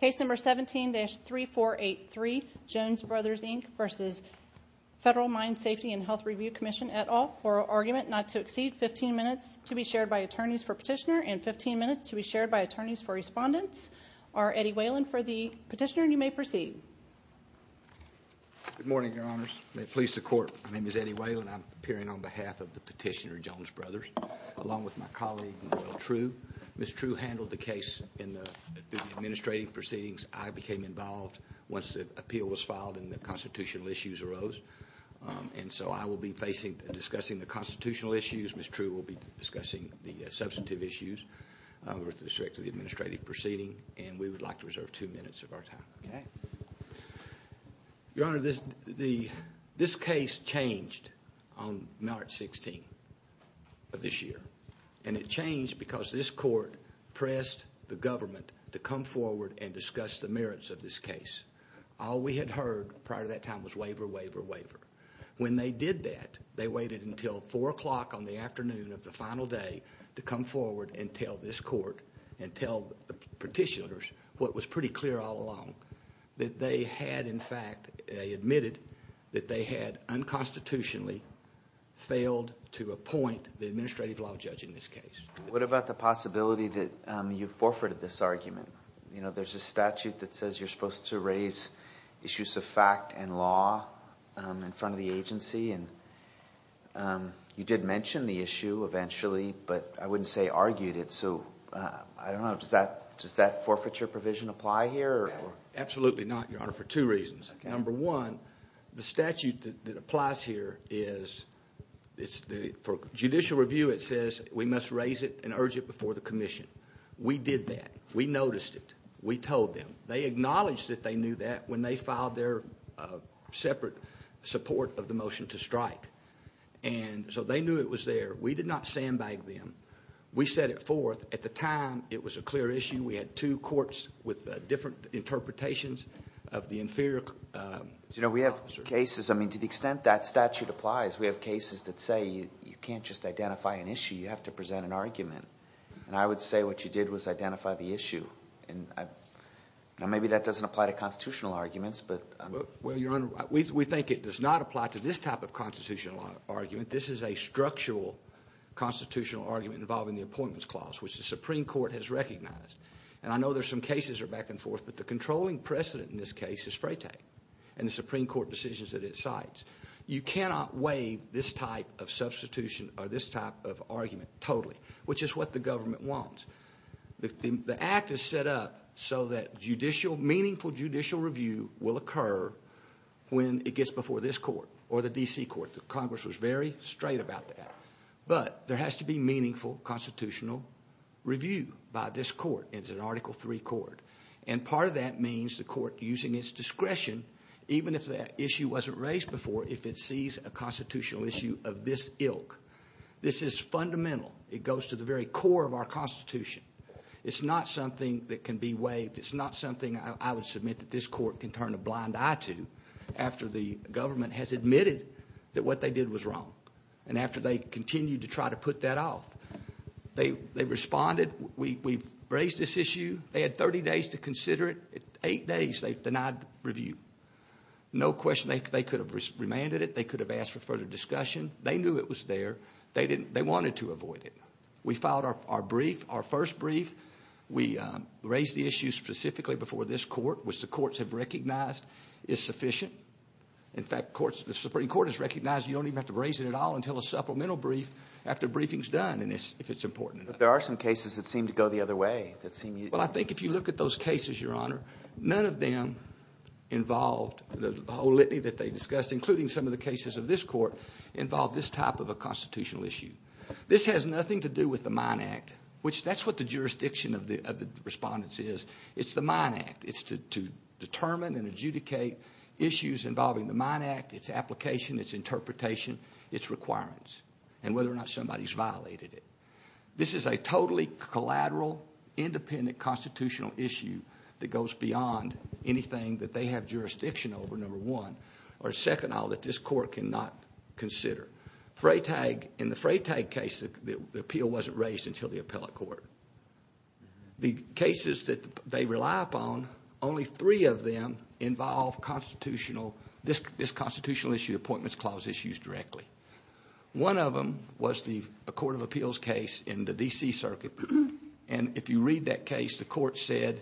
Case number 17-3483, Jones Brothers Inc versus Federal Mine Safety and Health Review Commission et al. Oral argument not to exceed 15 minutes to be shared by attorneys for petitioner and 15 minutes to be shared by attorneys for respondents. Our Eddie Whalen for the petitioner and you may proceed. Good morning, your honors. May it please the court, my name is Eddie Whalen. I'm appearing on behalf of the petitioner, Jones Brothers, along with my colleague, Noel True. Ms. True handled the case in the administrative proceedings. I became involved once the appeal was filed and the constitutional issues arose. And so I will be discussing the constitutional issues, Ms. True will be discussing the substantive issues with respect to the administrative proceeding, and we would like to reserve two minutes of our time. Your honor, this case changed on March 16th of this year. And it changed because this court pressed the government to come forward and discuss the merits of this case. All we had heard prior to that time was waiver, waiver, waiver. When they did that, they waited until 4 o'clock on the afternoon of the final day to come forward and tell this court and tell the petitioners what was pretty clear all along, that they had, in fact, admitted that they had unconstitutionally failed to appoint the administrative law judge in this case. What about the possibility that you forfeited this argument? You know, there's a statute that says you're supposed to raise issues of fact and law in front of the agency, and you did mention the issue eventually, but I wouldn't say argued it. So, I don't know, does that forfeiture provision apply here? Absolutely not, your honor, for two reasons. Number one, the statute that applies here is, for judicial review, it says we must raise it and urge it before the commission. We did that. We noticed it. We told them. They acknowledged that they knew that when they filed their separate support of the motion to strike. And so they knew it was there. We did not sandbag them. We set it forth. At the time, it was a clear issue. We had two courts with different interpretations of the inferior... You know, we have cases, I mean, to the extent that statute applies, we have cases that say you can't just identify an issue, you have to present an argument, and I would say what you did was identify the issue. Now, maybe that doesn't apply to constitutional arguments, but... Well, your honor, we think it does not apply to this type of constitutional argument. This is a structural constitutional argument involving the Appointments Clause, which the Supreme Court has recognized. And I know there's some cases that are back and forth, but the controlling precedent in this case is Freytag and the Supreme Court decisions that it cites. You cannot waive this type of substitution or this type of argument totally, which is what the government wants. The act is set up so that judicial... meaningful judicial review will occur when it gets before this court or the D.C. court. The Congress was very straight about that. But there has to be meaningful constitutional review by this court. It's an Article III court. And part of that means the court, using its discretion, even if that issue wasn't raised before, if it sees a constitutional issue of this ilk, this is fundamental. It goes to the very core of our Constitution. It's not something that can be waived. It's not something I would submit that this court can turn a blind eye to after the government has admitted that what they did was wrong and after they continue to try to put that off. They responded. We've raised this issue. They had 30 days to consider it. Eight days they denied review. No question they could have remanded it. They could have asked for further discussion. They knew it was there. They wanted to avoid it. We filed our brief, our first brief. We raised the issue specifically before this court, which the courts have recognized is sufficient. In fact, the Supreme Court has recognized you don't even have to raise it at all until a supplemental brief after a briefing is done, if it's important enough. There are some cases that seem to go the other way. I think if you look at those cases, Your Honor, none of them involved the whole litany that they discussed, including some of the cases of this court, involved this type of a constitutional issue. This has nothing to do with the Mine Act, which that's what the jurisdiction of the respondents is. It's the Mine Act. It's to determine and adjudicate issues involving the Mine Act, its application, its interpretation, its requirements, and whether or not somebody's violated it. This is a totally collateral, independent constitutional issue that goes beyond anything that they have jurisdiction over, number one, or second all that this court cannot consider. In the Freytag case, the appeal wasn't raised until the appellate court. The cases that they rely upon, only three of them involve this constitutional issue appointments clause issues directly. One of them was the Court of Appeals case in the D.C. Circuit. If you read that case, the court said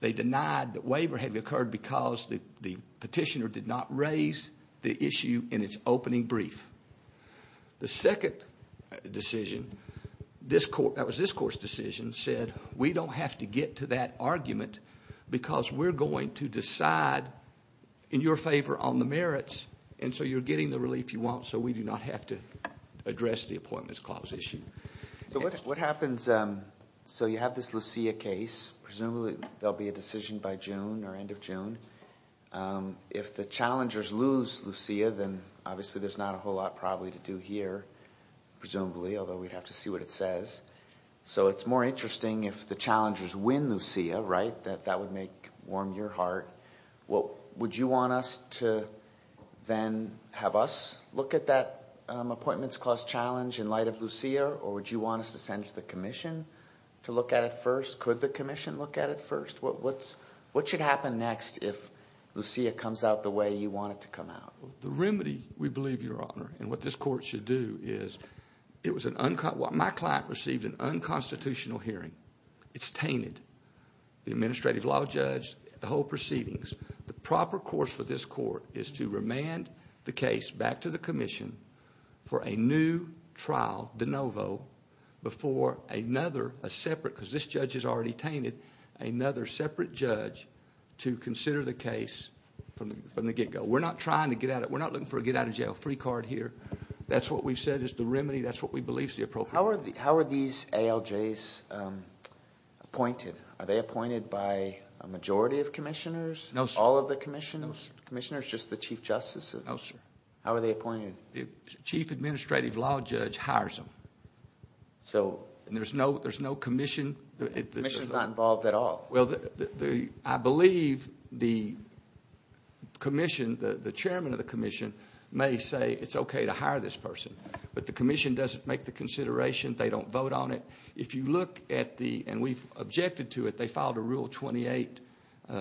they denied that waiver had occurred because the petitioner did not raise the issue in its opening brief. The second decision, that was this court's decision, said we don't have to get to that argument because we're going to decide in your favor on the merits, and so you're getting the relief you want, so we do not have to address the appointments clause issue. What happens, so you have this Lucia case, presumably there'll be a decision by June or end of June. If the challengers lose Lucia, then obviously there's not a whole lot probably to do here, presumably, although we'd have to see what it says. So it's more interesting if the challengers win Lucia, right, that that would make, warm your heart. Would you want us to then have us look at that appointments clause challenge in light of Lucia, or would you want us to send to the commission to look at it first? Could the commission look at it first? What should happen next if Lucia comes out the way you want it to come out? The remedy, we believe, Your Honor, and what this court should do is, it was an... my client received an unconstitutional hearing. It's tainted, the administrative law judge, the whole proceedings. The proper course for this court is to remand the case back to the commission for a new trial de novo before another, a separate, because this judge is already tainted, another separate judge to consider the case from the get-go. We're not trying to get out of... we're not looking for a get-out-of-jail-free card here. That's what we've said is the remedy. That's what we believe is the appropriate... How are these ALJs appointed? Are they appointed by a majority of commissioners? No, sir. All of the commissioners? No, sir. Commissioners, just the Chief Justice? No, sir. How are they appointed? The Chief Administrative Law Judge hires them, and there's no commission... The commission's not involved at all? Well, I believe the commission, the chairman of the commission, may say it's okay to hire this person, but the commission doesn't make the consideration. They don't vote on it. If you look at the... and we've objected to it. They filed a Rule 28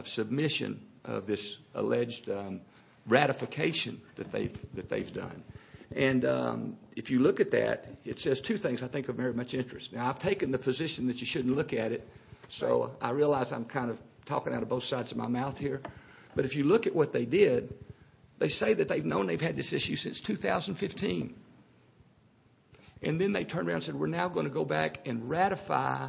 submission of this alleged ratification that they've done, and if you look at that, it says two things I think of very much interest. Now, I've taken the position that you shouldn't look at it, so I realize I'm kind of talking out of both sides of my mouth here, but if you look at what they did, they say that they've known they've had this issue since 2015, and then they turn around and say, we're now going to go back and ratify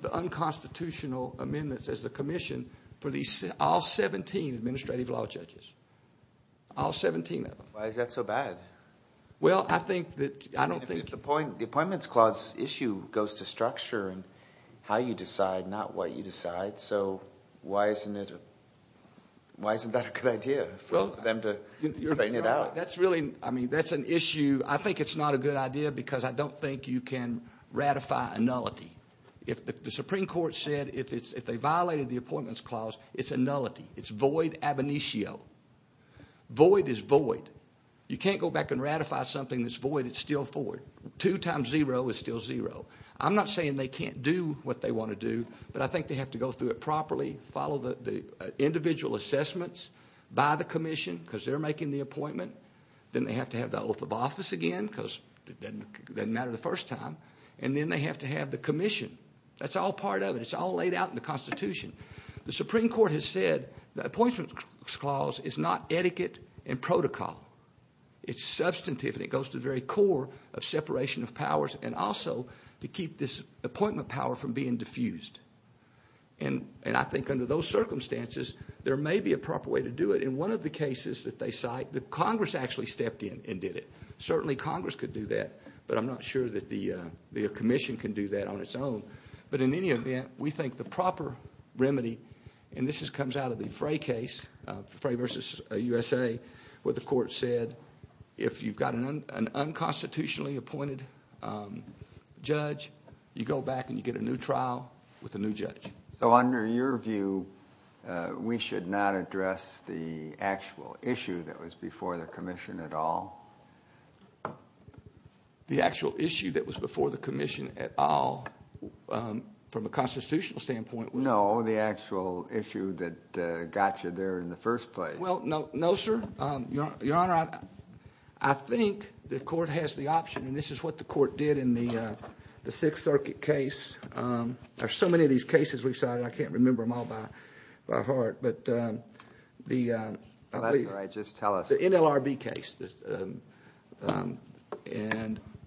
the unconstitutional amendments as the commission for all 17 Administrative Law Judges. All 17 of them. Why is that so bad? The Appointments Clause issue goes to structure and how you decide, not what you decide, so why isn't that a good idea for them to straighten it out? That's really... I mean, that's an issue... I think it's not a good idea because I don't think you can ratify a nullity. If the Supreme Court said if they violated the Appointments Clause, it's a nullity. It's void ab initio. Void is void. You can't go back and ratify something that's void. It's still void. Two times zero is still zero. I'm not saying they can't do what they want to do, but I think they have to go through it properly, follow the individual assessments by the commission because they're making the appointment, then they have to have the oath of office again because it doesn't matter the first time, and then they have to have the commission. That's all part of it. It's all laid out in the Constitution. The Supreme Court has said the Appointments Clause is not etiquette and protocol. It's substantive and it goes to the very core of separation of powers and also to keep this appointment power from being diffused. I think under those circumstances, there may be a proper way to do it. In one of the cases that they cite, the Congress actually stepped in and did it. Certainly Congress could do that, but I'm not sure that the commission can do that on its own. In any event, we think the proper remedy, and this comes out of the Frey case, Frey versus USA, where the court said, if you've got an unconstitutionally appointed judge, you go back and you get a new trial with a new judge. Under your view, we should not address the actual issue that was before the commission at all? The actual issue that was before the commission at all, from a constitutional standpoint? No, the actual issue that got you there in the first place. Well, no, sir. Your Honor, I think the court has the option, and this is what the court did in the Sixth Circuit case. There's so many of these cases we've cited, I can't remember them all by heart. The NLRB case.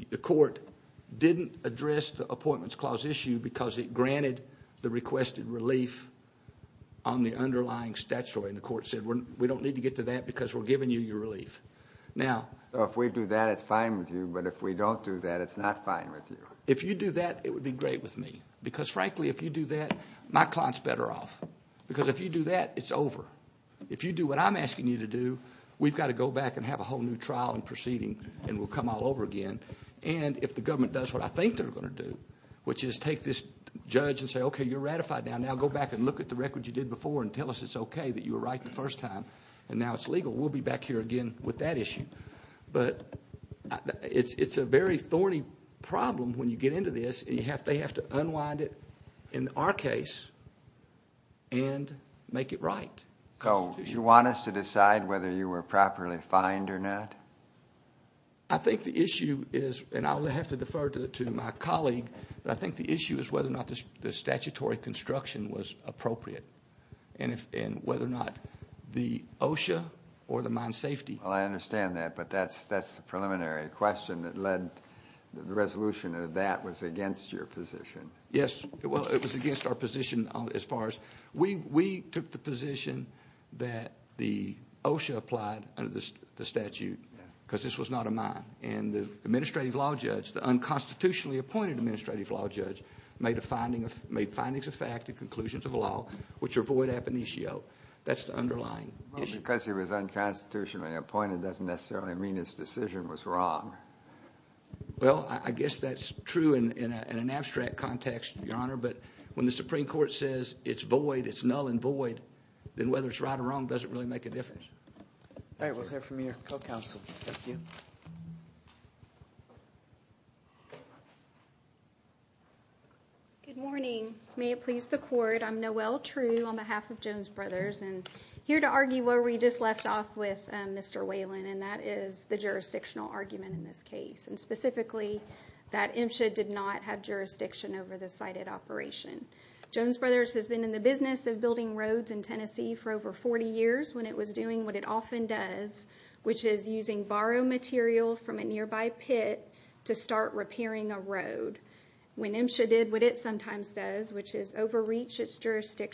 The court didn't address the Appointments Clause issue because it granted the requested relief on the underlying statutory, and the court said, we don't need to get to that because we're giving you your relief. If we do that, it's fine with you, but if we don't do that, it's not fine with you. If you do that, it would be great with me. Because, frankly, if you do that, my client's better off. Because if you do that, it's over. If you do what I'm asking you to do, we've got to go back and have a whole new trial and proceeding, and we'll come all over again. And if the government does what I think they're going to do, which is take this judge and say, okay, you're ratified now. Now go back and look at the record you did before and tell us it's okay that you were right the first time, and now it's legal. We'll be back here again with that issue. But it's a very thorny problem when you get into this, and they have to unwind it in our case and make it right. So, you want us to decide whether you were properly fined or not? I think the issue is, and I'll have to defer to my colleague, but I think the issue is whether or not the statutory construction was appropriate, and whether or not the OSHA or the mine safety... Well, I understand that, but that's the preliminary question that led... The resolution of that was against your position. Yes. Well, it was against our position as far as... We took the position that the OSHA applied under the statute, because this was not a mine. And the administrative law judge, the unconstitutionally appointed administrative law judge, made findings of fact and conclusions of law, which avoid ab initio. That's the underlying issue. Well, because he was unconstitutionally appointed doesn't necessarily mean his decision was wrong. Well, I guess that's true in an abstract context, Your Honor. But when the Supreme Court says it's void, it's null and void, then whether it's right or wrong doesn't really make a difference. All right. We'll hear from your co-counsel. Thank you. Good morning. May it please the Court. I'm Noelle True on behalf of Jones Brothers, and here to argue where we just left off with Mr. Whalen, and that is the jurisdictional argument in this case, and specifically that MSHA did not have jurisdiction over the sited operation. Jones Brothers has been in the business of building roads in Tennessee for over 40 years when it was doing what it often does, which is using borrowed material from a nearby pit to start repairing a road, when MSHA did what it sometimes does, which is overreach its landmines.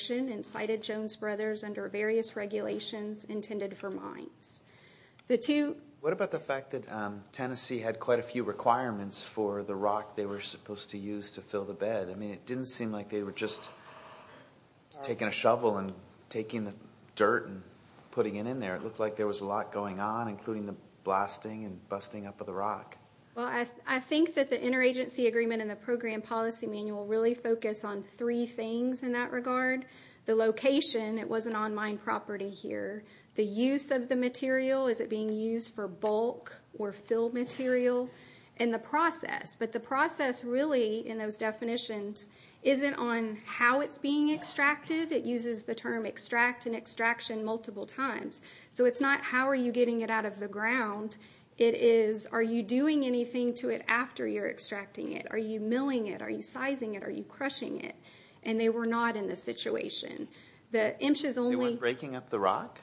What about the fact that Tennessee had quite a few requirements for the rock they were supposed to use to fill the bed? I mean, it didn't seem like they were just taking a shovel and taking the dirt and putting it in there. It looked like there was a lot going on, including the blasting and busting up of the rock. Well, I think that the interagency agreement in the program policy manual really focused on three things in that regard. The location, it was an on-line property here. The use of the material, is it being used for bulk or filled material? And the process. But the process really, in those definitions, isn't on how it's being extracted. It uses the term extract and extraction multiple times. So, it's not how are you getting it out of the ground. It is, are you doing anything to it after you're extracting it? Are you milling it? Are you sizing it? Are you crushing it? And they were not in this situation. They weren't breaking up the rock?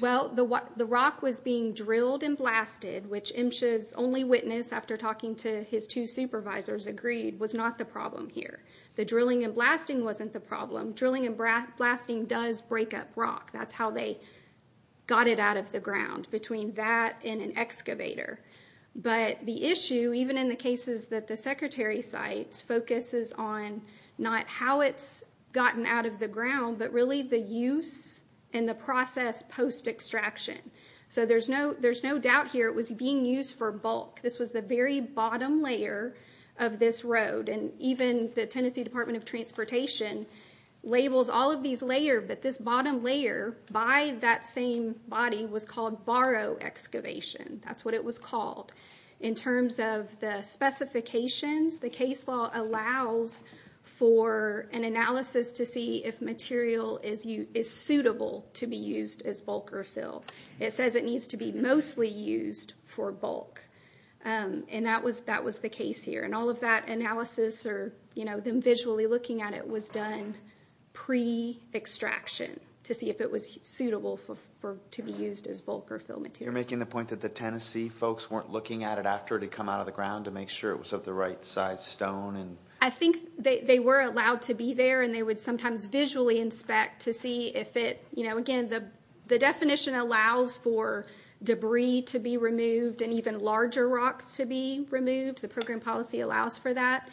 Well, the rock was being drilled and blasted, which MSHA's only witness, after talking to his two supervisors, agreed was not the problem here. The drilling and blasting wasn't the problem. Drilling and blasting does break up rock. That's how they got it out of the ground, between that and an excavator. But the issue, even in the cases that the secretary cites, focuses on not how it's gotten out of the ground, but really the use and the process post-extraction. So, there's no doubt here it was being used for bulk. This was the very bottom layer of this road. And even the Tennessee Department of Transportation labels all of these layers, but this bottom layer, by that same body, was called barrow excavation. That's what it was called. In terms of the specifications, the case law allows for an analysis to see if material is suitable to be used as bulk or fill. It says it needs to be mostly used for bulk. And that was the case here. And all of that analysis, them visually looking at it, was done pre-extraction to see if it was suitable to be used as bulk or fill material. You're making the point that the Tennessee folks weren't looking at it after it had come out of the ground to make sure it was of the right size stone? I think they were allowed to be there and they would sometimes visually inspect to see if it, again, the definition allows for debris to be removed and even larger rocks to be removed. The program policy allows for that.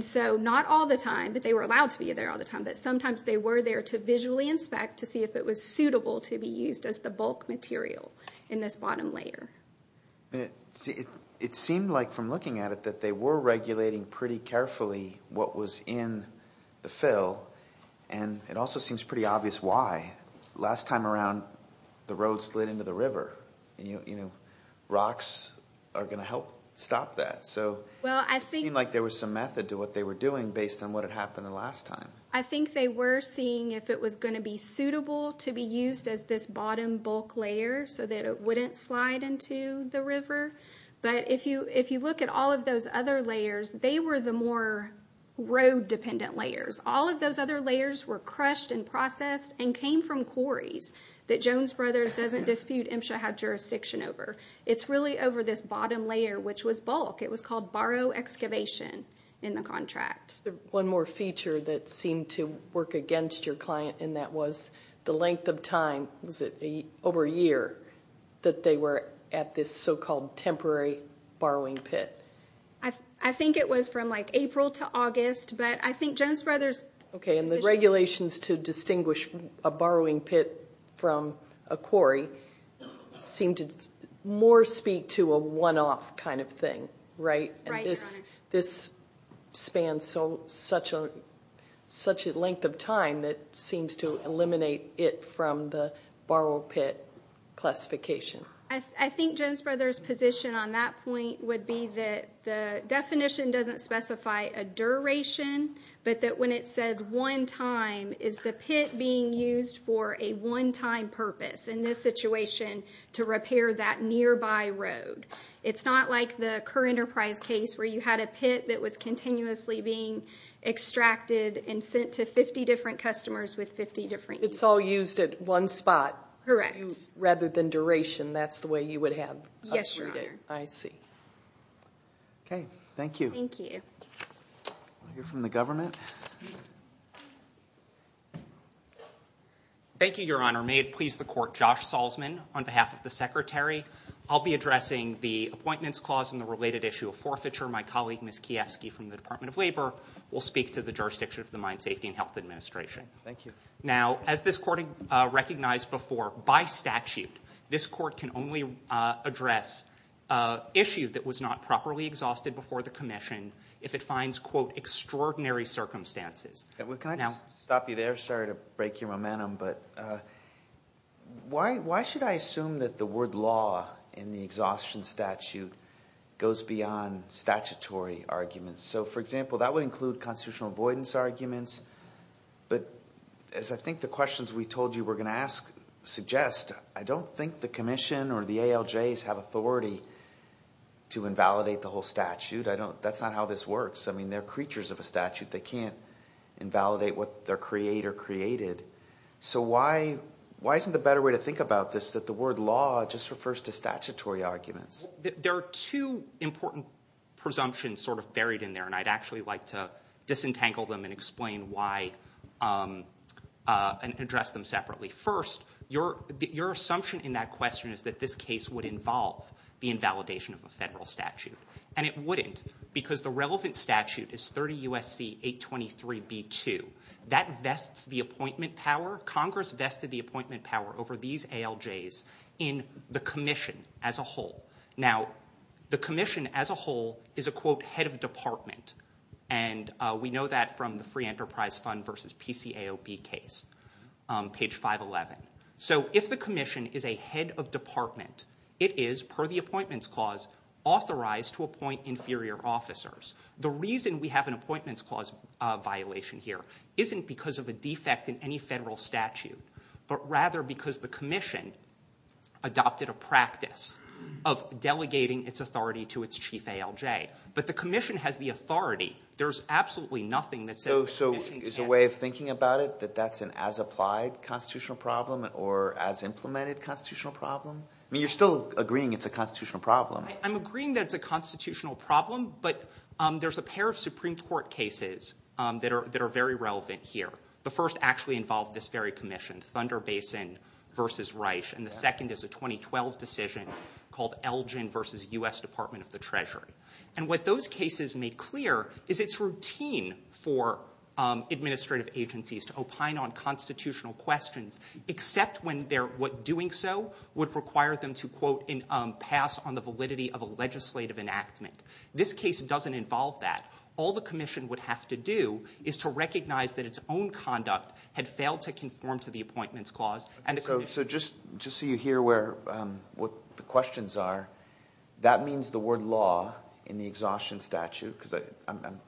So, not all the time, but they were allowed to be there all the time. Sometimes they were there to visually inspect to see if it was suitable to be used as the bottom layer. It seemed like from looking at it that they were regulating pretty carefully what was in the fill and it also seems pretty obvious why. Last time around, the road slid into the river. Rocks are going to help stop that. It seemed like there was some method to what they were doing based on what had happened the last time. I think they were seeing if it was going to be suitable to be used as this bottom bulk layer so that it wouldn't slide into the river. If you look at all of those other layers, they were the more road-dependent layers. All of those other layers were crushed and processed and came from quarries that Jones Brothers doesn't dispute MSHA had jurisdiction over. It's really over this bottom layer, which was bulk. It was called barrow excavation in the contract. One more feature that seemed to work against your client and that was the length of time. Was it over a year that they were at this so-called temporary borrowing pit? I think it was from April to August. The regulations to distinguish a borrowing pit from a quarry seem to more speak to a one-off kind of thing. Right. This spans such a length of time that seems to eliminate it from the borrow pit classification. I think Jones Brothers' position on that point would be that the definition doesn't specify a duration, but that when it says one time, is the pit being used for a one-time purpose in this situation to repair that nearby road? It's not like the Kerr Enterprise case where you had a pit that was continuously being extracted and sent to 50 different customers with 50 different uses. It's all used at one spot. Correct. Rather than duration, that's the way you would have a three-day. Yes, Your Honor. I see. Okay. Thank you. Thank you. We'll hear from the government. Thank you, Your Honor. May it please the Court, Josh Salzman on behalf of the Secretary. I'll be addressing the Appointments Clause and the related issue of forfeiture. My colleague, Ms. Kiefsky, from the Department of Labor, will speak to the jurisdiction of the Mine Safety and Health Administration. Thank you. Now, as this Court recognized before, by statute, this Court can only address an issue that was not properly exhausted before the Commission if it finds, quote, extraordinary circumstances. Can I just stop you there? Sorry to break your momentum. But why should I assume that the word law in the exhaustion statute goes beyond statutory arguments? So, for example, that would include constitutional avoidance arguments. But as I think the questions we told you we're going to ask suggest, I don't think the Commission or the ALJs have authority to invalidate the whole statute. That's not how this works. I mean, they're creatures of a statute. They can't invalidate what their creator created. So why isn't the better way to think about this that the word law just refers to statutory arguments? There are two important presumptions sort of buried in there. And I'd actually like to disentangle them and explain why and address them separately. First, your assumption in that question is that this case would involve the invalidation of a federal statute. And it wouldn't. Because the relevant statute is 30 U.S.C. 823b2. That vests the appointment power. Congress vested the appointment power over these ALJs in the Commission as a whole. Now, the Commission as a whole is a, quote, head of department. And we know that from the Free Enterprise Fund versus PCAOB case, page 511. So if the Commission is a head of department, it is, per the appointments clause, authorized to appoint inferior officers. The reason we have an appointments clause violation here isn't because of a defect in any federal statute, but rather because the Commission adopted a practice of delegating its authority to its chief ALJ. But the Commission has the authority. There's absolutely nothing that says the Commission can't. So is a way of thinking about it that that's an as-applied constitutional problem or as-implemented constitutional problem? I mean, you're still agreeing it's a constitutional problem. I'm agreeing that it's a constitutional problem, but there's a pair of Supreme Court cases that are very relevant here. The first actually involved this very Commission, Thunder Basin versus Reich. And the second is a 2012 decision called Elgin versus U.S. Department of the Treasury. And what those cases made clear is it's routine for administrative agencies to opine on constitutional questions, except when what doing so would require them to, quote, pass on the validity of a legislative enactment. This case doesn't involve that. All the Commission would have to do is to recognize that its own conduct had failed to conform to the appointments clause. So just so you hear what the questions are, that means the word law in the exhaustion statute, because I'm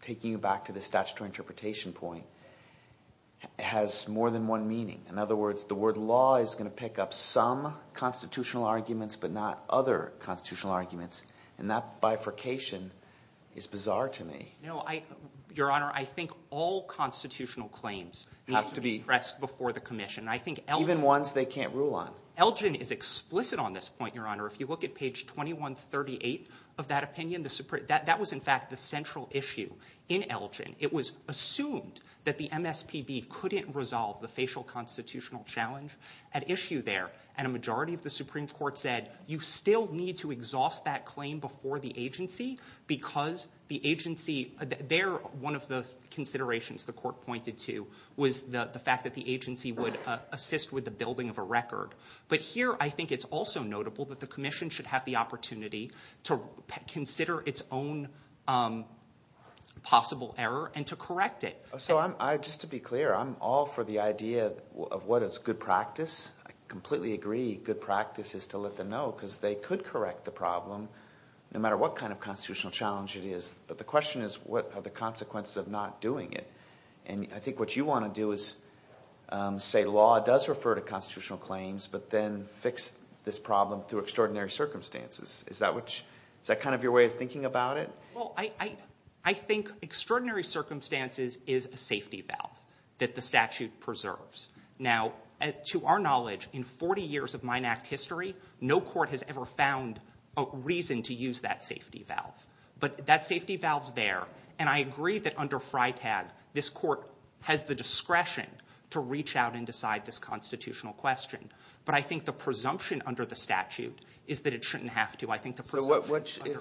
taking you back to the statutory interpretation point, has more than one meaning. In other words, the word law is going to pick up some constitutional arguments, but not other constitutional arguments. And that bifurcation is bizarre to me. Your Honor, I think all constitutional claims have to be pressed before the Commission. Even ones they can't rule on. Elgin is explicit on this point, Your Honor. If you look at page 2138 of that opinion, that was in fact the central issue in Elgin. It was assumed that the MSPB couldn't resolve the facial constitutional challenge at issue there. And a majority of the Supreme Court said, you still need to exhaust that claim before the agency, because one of the considerations the court pointed to was the fact that the agency would assist with the building of a record. But here I think it's also notable that the Commission should have the opportunity to consider its own possible error and to correct it. So just to be clear, I'm all for the idea of what is good practice. I completely agree good practice is to let them know, because they could correct the problem, no matter what kind of constitutional challenge it is. But the question is, what are the consequences of not doing it? And I think what you want to do is say law does refer to constitutional claims, but then fix this problem through extraordinary circumstances. Is that kind of your way of thinking about it? Well, I think extraordinary circumstances is a safety valve that the statute preserves. Now, to our knowledge, in 40 years of Mine Act history, no court has ever found a reason to use that safety valve. But that safety valve's there, and I agree that under FRITAG, this court has the discretion to reach out and decide this constitutional question. But I think the presumption under the statute is that it shouldn't have to.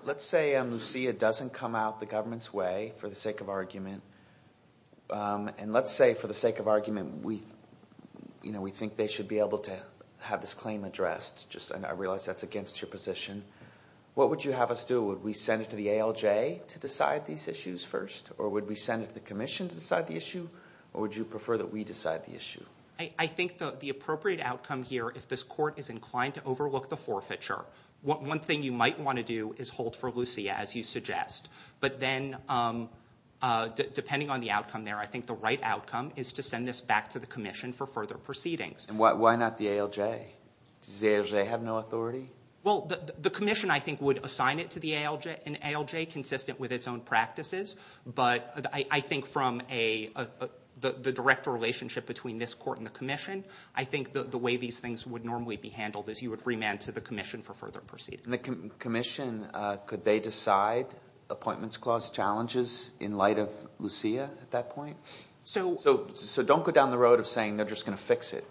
Let's say Lucia doesn't come out the government's way for the sake of argument. And let's say, for the sake of argument, we think they should be able to have this claim addressed. I realize that's against your position. What would you have us do? Would we send it to the ALJ to decide these issues first? Or would we send it to the Commission to decide the issue? Or would you prefer that we decide the issue? I think the appropriate outcome here, if this court is inclined to overlook the forfeiture, one thing you might want to do is hold for Lucia, as you suggest. But then, depending on the outcome there, I think the right outcome is to send this back to the Commission for further proceedings. And why not the ALJ? Does the ALJ have no authority? Well, the Commission, I think, would assign it to the ALJ, consistent with its own practices. But I think from the direct relationship between this court and the Commission, I think the way these things would normally be handled is you would remand to the Commission for further proceedings. And the Commission, could they decide appointments clause challenges in light of Lucia at that point? So don't go down the road of saying they're just going to fix it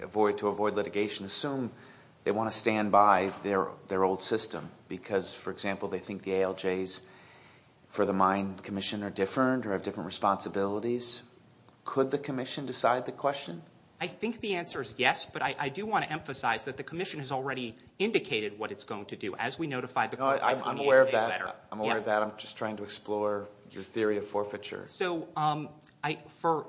to avoid litigation. Assume they want to stand by their old system. Because, for example, they think the ALJs for the Mine Commission are different, or have different responsibilities. Could the Commission decide the question? I think the answer is yes. But I do want to emphasize that the Commission has already indicated what it's going to do, as we notified the Court. I'm aware of that. I'm aware of that. I'm just trying to explore your theory of forfeiture. So,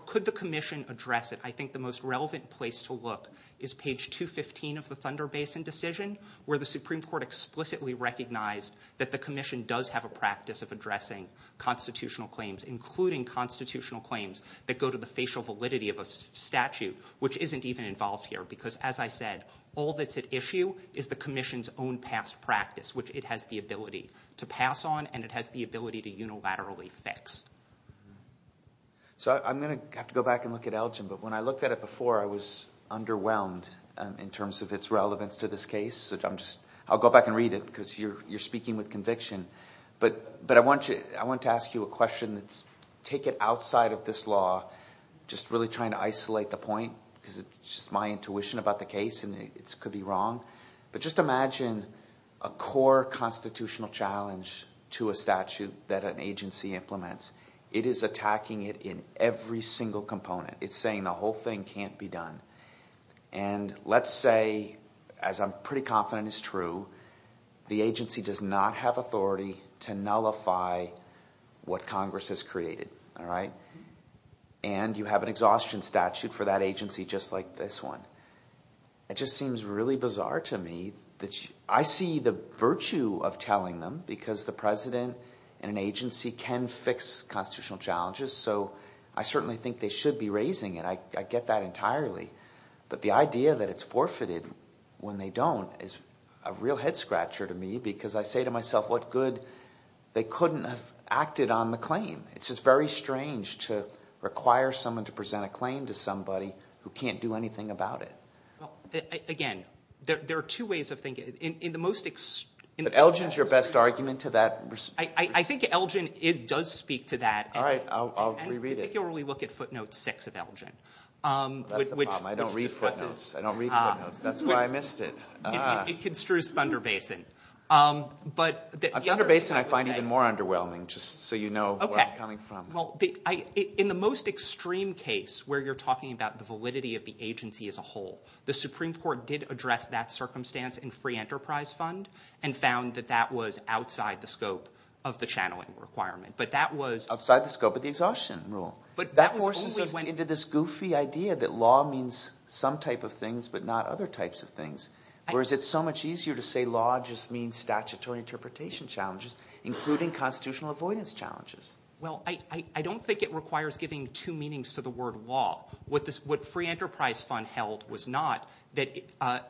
could the Commission address it? I think the most relevant place to look is page 215 of the Thunder Basin decision, where the Supreme Court explicitly recognized that the Commission does have a practice of addressing constitutional claims, including constitutional claims that go to the facial validity of a statute, which isn't even involved here. Because, as I said, all that's at issue is the Commission's own past practice, which it has the ability to pass on, and it has the ability to unilaterally fix. So, I'm going to have to go back and look at Elgin, but when I looked at it before, I was underwhelmed in terms of its relevance to this case. I'll go back and read it, because you're speaking with conviction. But I want to ask you a question. Take it outside of this law, just really trying to isolate the point, because it's just my intuition about the case, and it could be wrong. But just imagine a core constitutional challenge to a statute that an agency implements. It is attacking it in every single component. It's saying the whole thing can't be done. And let's say, as I'm pretty confident is true, the agency does not have authority to nullify what Congress has created. And you have an exhaustion statute for that agency just like this one. It just seems really bizarre to me. I see the virtue of telling them, because the President and an agency can fix constitutional challenges, so I certainly think they should be raising it. I get that entirely. But the idea that it's forfeited when they don't is a real head-scratcher to me, because I say to myself, what good, they couldn't have acted on the claim. It's just very strange to require someone to present a claim to somebody who can't do anything about it. Again, there are two ways of thinking it. Elgin's your best argument to that. I think Elgin does speak to that. I particularly look at footnotes 6 of Elgin. That's the problem, I don't read footnotes. That's why I missed it. It construes Thunder Basin. Thunder Basin I find even more underwhelming, just so you know where I'm coming from. In the most extreme case, where you're talking about the validity of the agency as a whole, the Supreme Court did address that circumstance in Free Enterprise Fund, and found that that was outside the scope of the channeling requirement. Outside the scope of the exhaustion rule. That forces us into this goofy idea that law means some type of things, but not other types of things. Whereas it's so much easier to say law just means statutory interpretation challenges, including constitutional avoidance challenges. I don't think it requires giving two meanings to the word law. What Free Enterprise Fund held was not,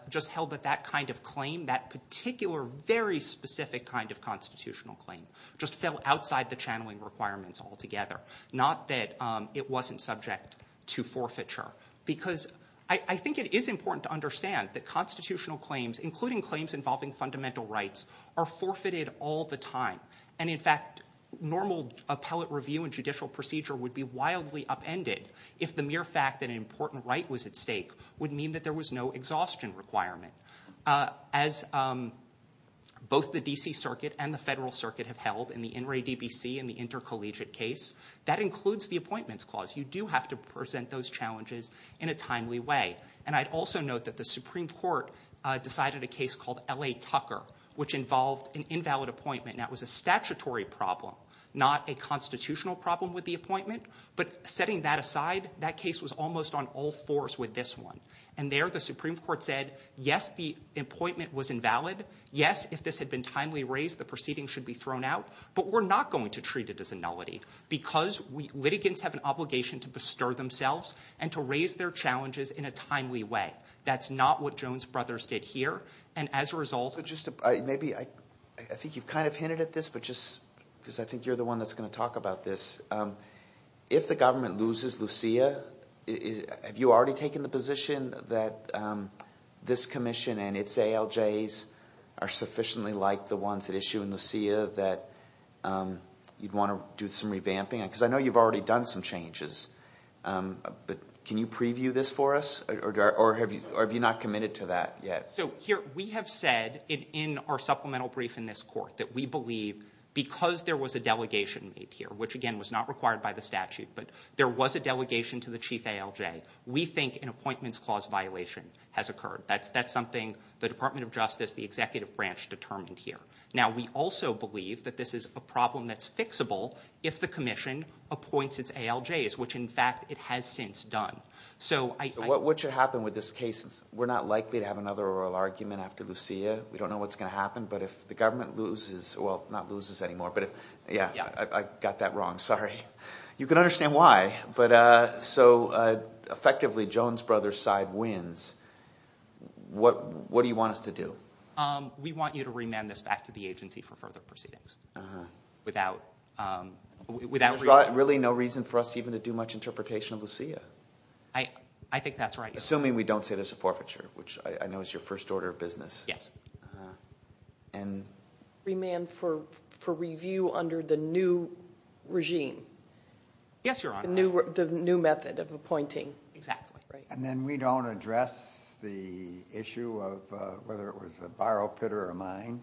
just held that that kind of claim, that particular, very specific kind of constitutional claim, just fell outside the channeling requirements altogether. Not that it wasn't subject to forfeiture. Because I think it is important to understand that constitutional claims, including claims involving fundamental rights, are forfeited all the time. In fact, normal appellate review and judicial procedure would be wildly upended if the mere fact that an important right was at stake would mean that there was no exhaustion requirement. As both the D.C. Circuit and the Federal Circuit have held in the In re D.B.C. and the intercollegiate case, that includes the appointments clause. You do have to present those challenges in a timely way. I'd also note that the Supreme Court decided a case called L.A. Tucker, which involved an invalid appointment and that was a statutory problem, not a constitutional problem with the appointment. Setting that aside, that case was almost on all fours with this one. And there the Supreme Court said, yes, the appointment was invalid. Yes, if this had been timely raised, the proceeding should be thrown out. But we're not going to treat it as a nullity. Because litigants have an obligation to bestir themselves and to raise their challenges in a timely way. That's not what Jones Brothers did here. And as a result... I think you've kind of hinted at this, because I think you're the one that's going to talk about this. If the government loses Lucia, have you already taken the position that this commission and its ALJs are sufficiently like the ones that issue in Lucia that you'd want to do some revamping? Because I know you've already done some changes. But can you preview this for us? Or have you not committed to that yet? We have said in our supplemental brief in this court that we believe, because there was a delegation made here, which again was not required by the statute, but there was a delegation to the chief ALJ, we think an appointments clause violation has occurred. That's something the Department of Justice, the executive branch determined here. Now we also believe that this is a problem that's fixable if the commission appoints its ALJs, which in fact it has since done. So what should happen with this case? We're not likely to have another oral argument after Lucia. We don't know what's going to happen, but if the government loses, well, not loses anymore, but yeah, I got that wrong, sorry. You can understand why. So effectively Jones Brothers side wins. What do you want us to do? We want you to remand this back to the agency for further proceedings. Without... There's really no reason for us even to do much interpretation of Lucia. I think that's right. Assuming we don't say there's a forfeiture, which I know is your first order of business. Yes. Remand for review under the new regime. Yes, Your Honor. The new method of appointing. Exactly. And then we don't address the issue of whether it was a borrow pitter or mine.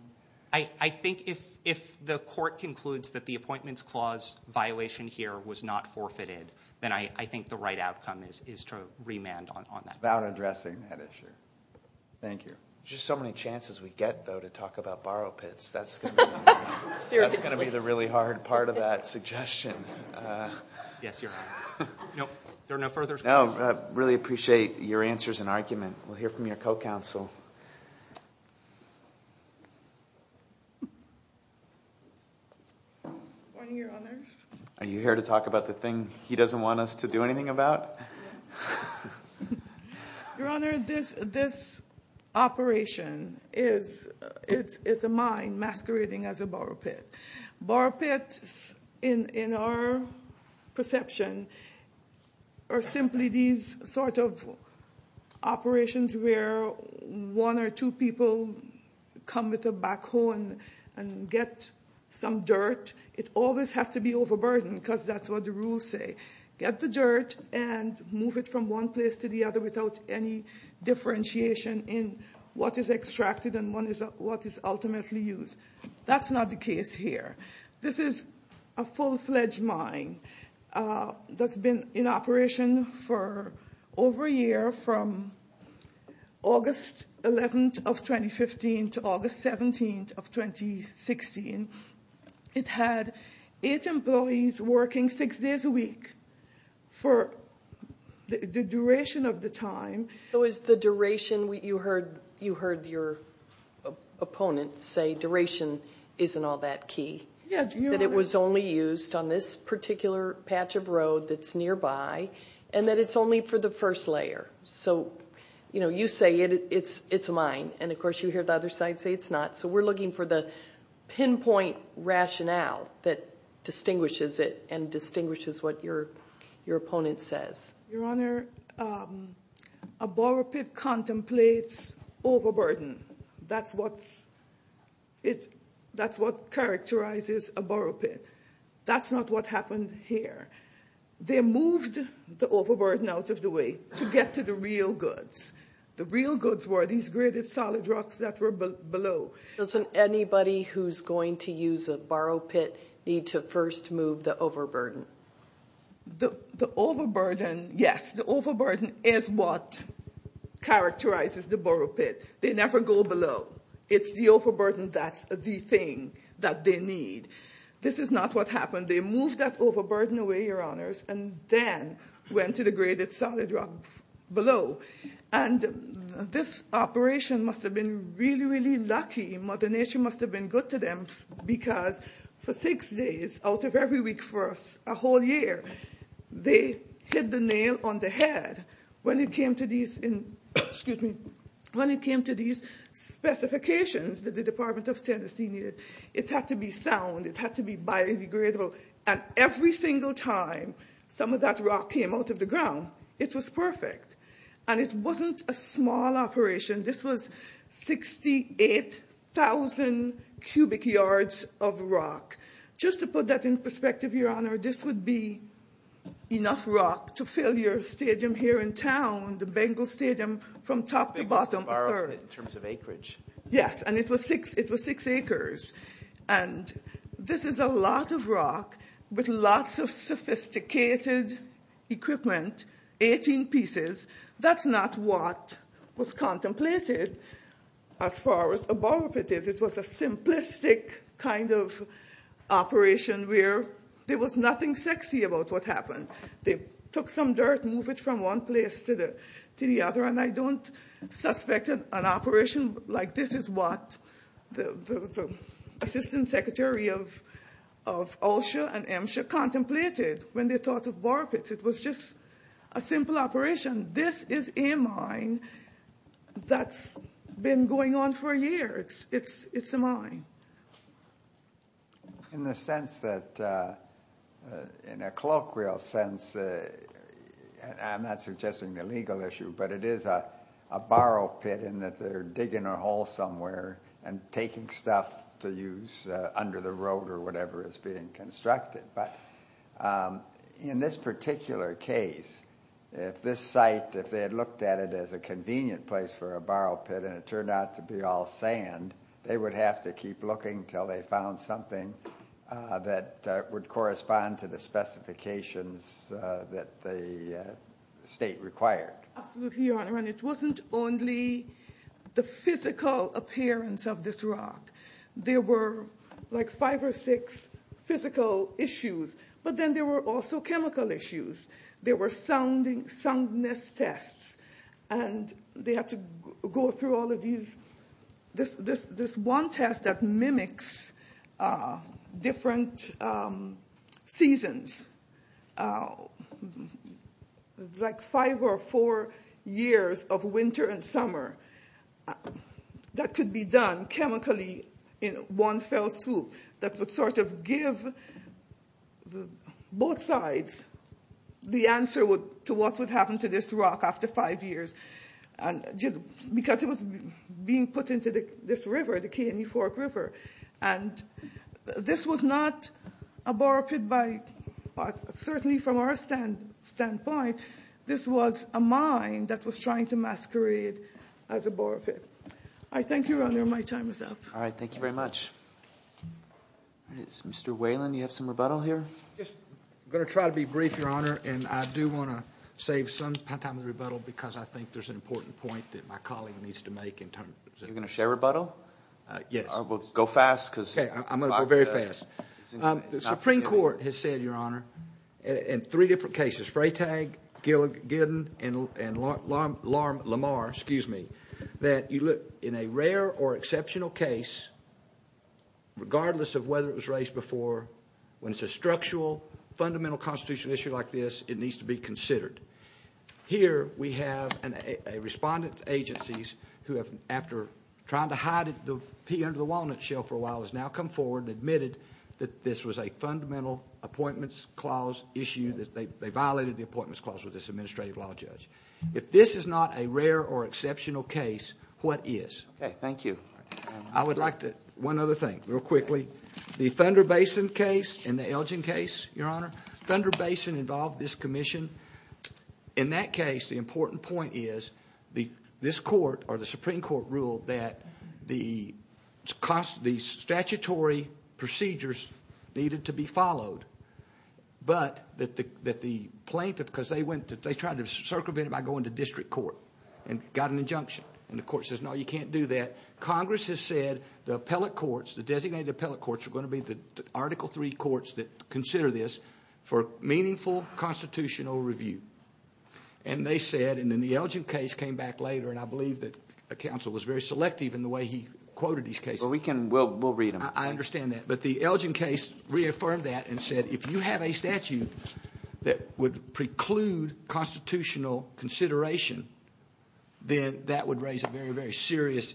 I think if the court concludes that the appointments clause violation here was not forfeited, then I think the right outcome is to remand on that. Without addressing that issue. Thank you. There's just so many chances we get, though, to talk about borrow pits. That's going to be the really hard part of that suggestion. Yes, Your Honor. No, there are no further questions. No, I really appreciate your answers and argument. We'll hear from your co-counsel. Morning, Your Honor. Are you here to talk about the thing he doesn't want us to do anything about? Yes. Your Honor, this operation is a mine masquerading as a borrow pit. Borrow pits, in our perception, are simply these sort of operations and I'm not going to go into the details of this, but when one or two people come with a backhoe and get some dirt, it always has to be overburdened because that's what the rules say. Get the dirt and move it from one place to the other without any differentiation in what is extracted and what is ultimately used. That's not the case here. This is a full-fledged mine that's been in operation for over a year from August 11th of 2015 to August 17th of 2016. It had eight employees working six days a week for the duration of the time. So is the duration, you heard your opponent say, duration isn't all that key, that it was only used on this particular patch of road that's nearby and that it's only for the first layer. So you say it's a mine and of course you hear the other side say it's not, so we're looking for the pinpoint rationale that distinguishes it and distinguishes what your opponent says. Your Honor, a borrow pit contemplates overburden. That's what characterizes a borrow pit. That's not what happened here. They moved the overburden out of the way to get to the real goods. The real goods were these gridded solid rocks that were below. Doesn't anybody who's going to use a borrow pit need to first move the overburden? The overburden, yes, the overburden is what characterizes the borrow pit. They never go below. It's the overburden that's the thing that they need. This is not what happened. They moved that overburden away, Your Honors, and then went to the gridded solid rock below. And this operation must have been really, really lucky. Mother Nature must have been good to them because for six days out of every week for a whole year, they hit the nail on the head. When it came to these specifications that the Department of Tennessee needed, it had to be sound, it had to be biodegradable. And every single time some of that rock came out of the ground, it was perfect. And it wasn't a small operation. This was 68,000 cubic yards of rock. Just to put that into perspective, Your Honor, this would be enough rock to fill your stadium here in town, the Bengal Stadium, from top to bottom. Yes, and it was six acres. And this is a lot of rock with lots of sophisticated equipment, 18 pieces. That's not what was contemplated as far as a borrow pit is. It was a simplistic kind of operation where there was nothing sexy about what happened. They took some dirt, moved it from one place to the other, and I don't suspect an operation like this is what the Assistant Secretary of OSHA and MSHA contemplated when they thought of borrow pits. It was just a simple operation. This is a mine that's been going on for years. It's a mine. In the sense that, in a colloquial sense, I'm not suggesting the legal issue, but it is a borrow pit in that they're digging a hole somewhere and taking stuff to use under the road or whatever is being constructed. But in this particular case, if this site, if they had looked at it as a convenient place for a borrow pit and it turned out to be all sand, they would have to keep looking until they found something that would correspond to the specifications that the state required. Absolutely, Your Honor. It wasn't only the physical appearance of this rock. There were five or six physical issues, but then there were also chemical issues. There were soundness tests, and they had to go through all of these. There's one test that mimics different seasons. It's like five or four years of winter and summer that could be done chemically in one fell swoop that would sort of give both sides the answer to what would happen to this rock after five years. Because it was being put into this river, the Keeney Fork River. This was not a borrow pit by, certainly from our standpoint, this was a mine that was trying to masquerade as a borrow pit. Thank you, Your Honor. My time is up. Mr. Whalen, you have some rebuttal here? I'm going to try to be brief, Your Honor, and I do want to save some time for rebuttal because I think there's an important point that my colleague needs to make. You're going to share rebuttal? I'm going to go very fast. The Supreme Court has said, Your Honor, in three different cases, Freytag, Gilligan, and Lamar, that in a rare or exceptional case, regardless of whether it was raised before, when it's a structural, fundamental constitutional issue like this, it needs to be considered. Here we have respondent agencies who have, after trying to hide the pea under the walnut shell for a while, has now come forward and admitted that this was a fundamental appointments clause issue, that they violated the appointments clause with this administrative law judge. If this is not a rare or exceptional case, what is? Okay, thank you. One other thing, real quickly. The Thunder Basin case and the Elgin case, Your Honor, Thunder Basin involved this commission. In that case, the important point is, this court, or the Supreme Court, ruled that the statutory procedures needed to be followed, but that the plaintiff, because they tried to circumvent it by going to district court and got an injunction. And the court says, no, you can't do that. Congress has said the designated appellate courts are going to be the Article III courts that consider this for meaningful constitutional review. And they said, and then the Elgin case came back later, and I believe that counsel was very selective in the way he quoted these cases. We'll read them. I understand that. But the Elgin case reaffirmed that and said, if you have a statute that would preclude constitutional consideration, then that would raise a very, very serious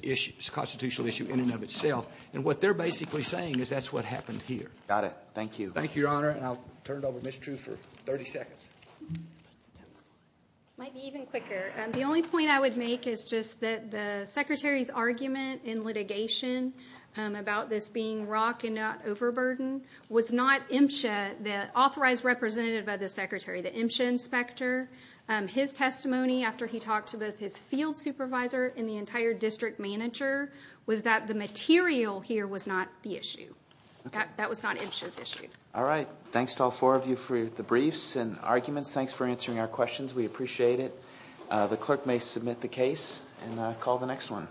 constitutional issue in and of itself. And what they're basically saying is that's what happened here. Got it. Thank you. Thank you, Your Honor. And I'll turn it over to Ms. True for 30 seconds. It might be even quicker. The only point I would make is just that the Secretary's argument in litigation about this being rock and not overburden was not Imsha, the authorized representative of the Secretary, the Imsha inspector. His testimony after he talked to both his field supervisor and the entire district manager was that the material here was not the issue. That was not Imsha's issue. All right. Thanks to all four of you for the briefs and arguments. Thanks for answering our questions. We appreciate it. The clerk may submit the case and call the next one.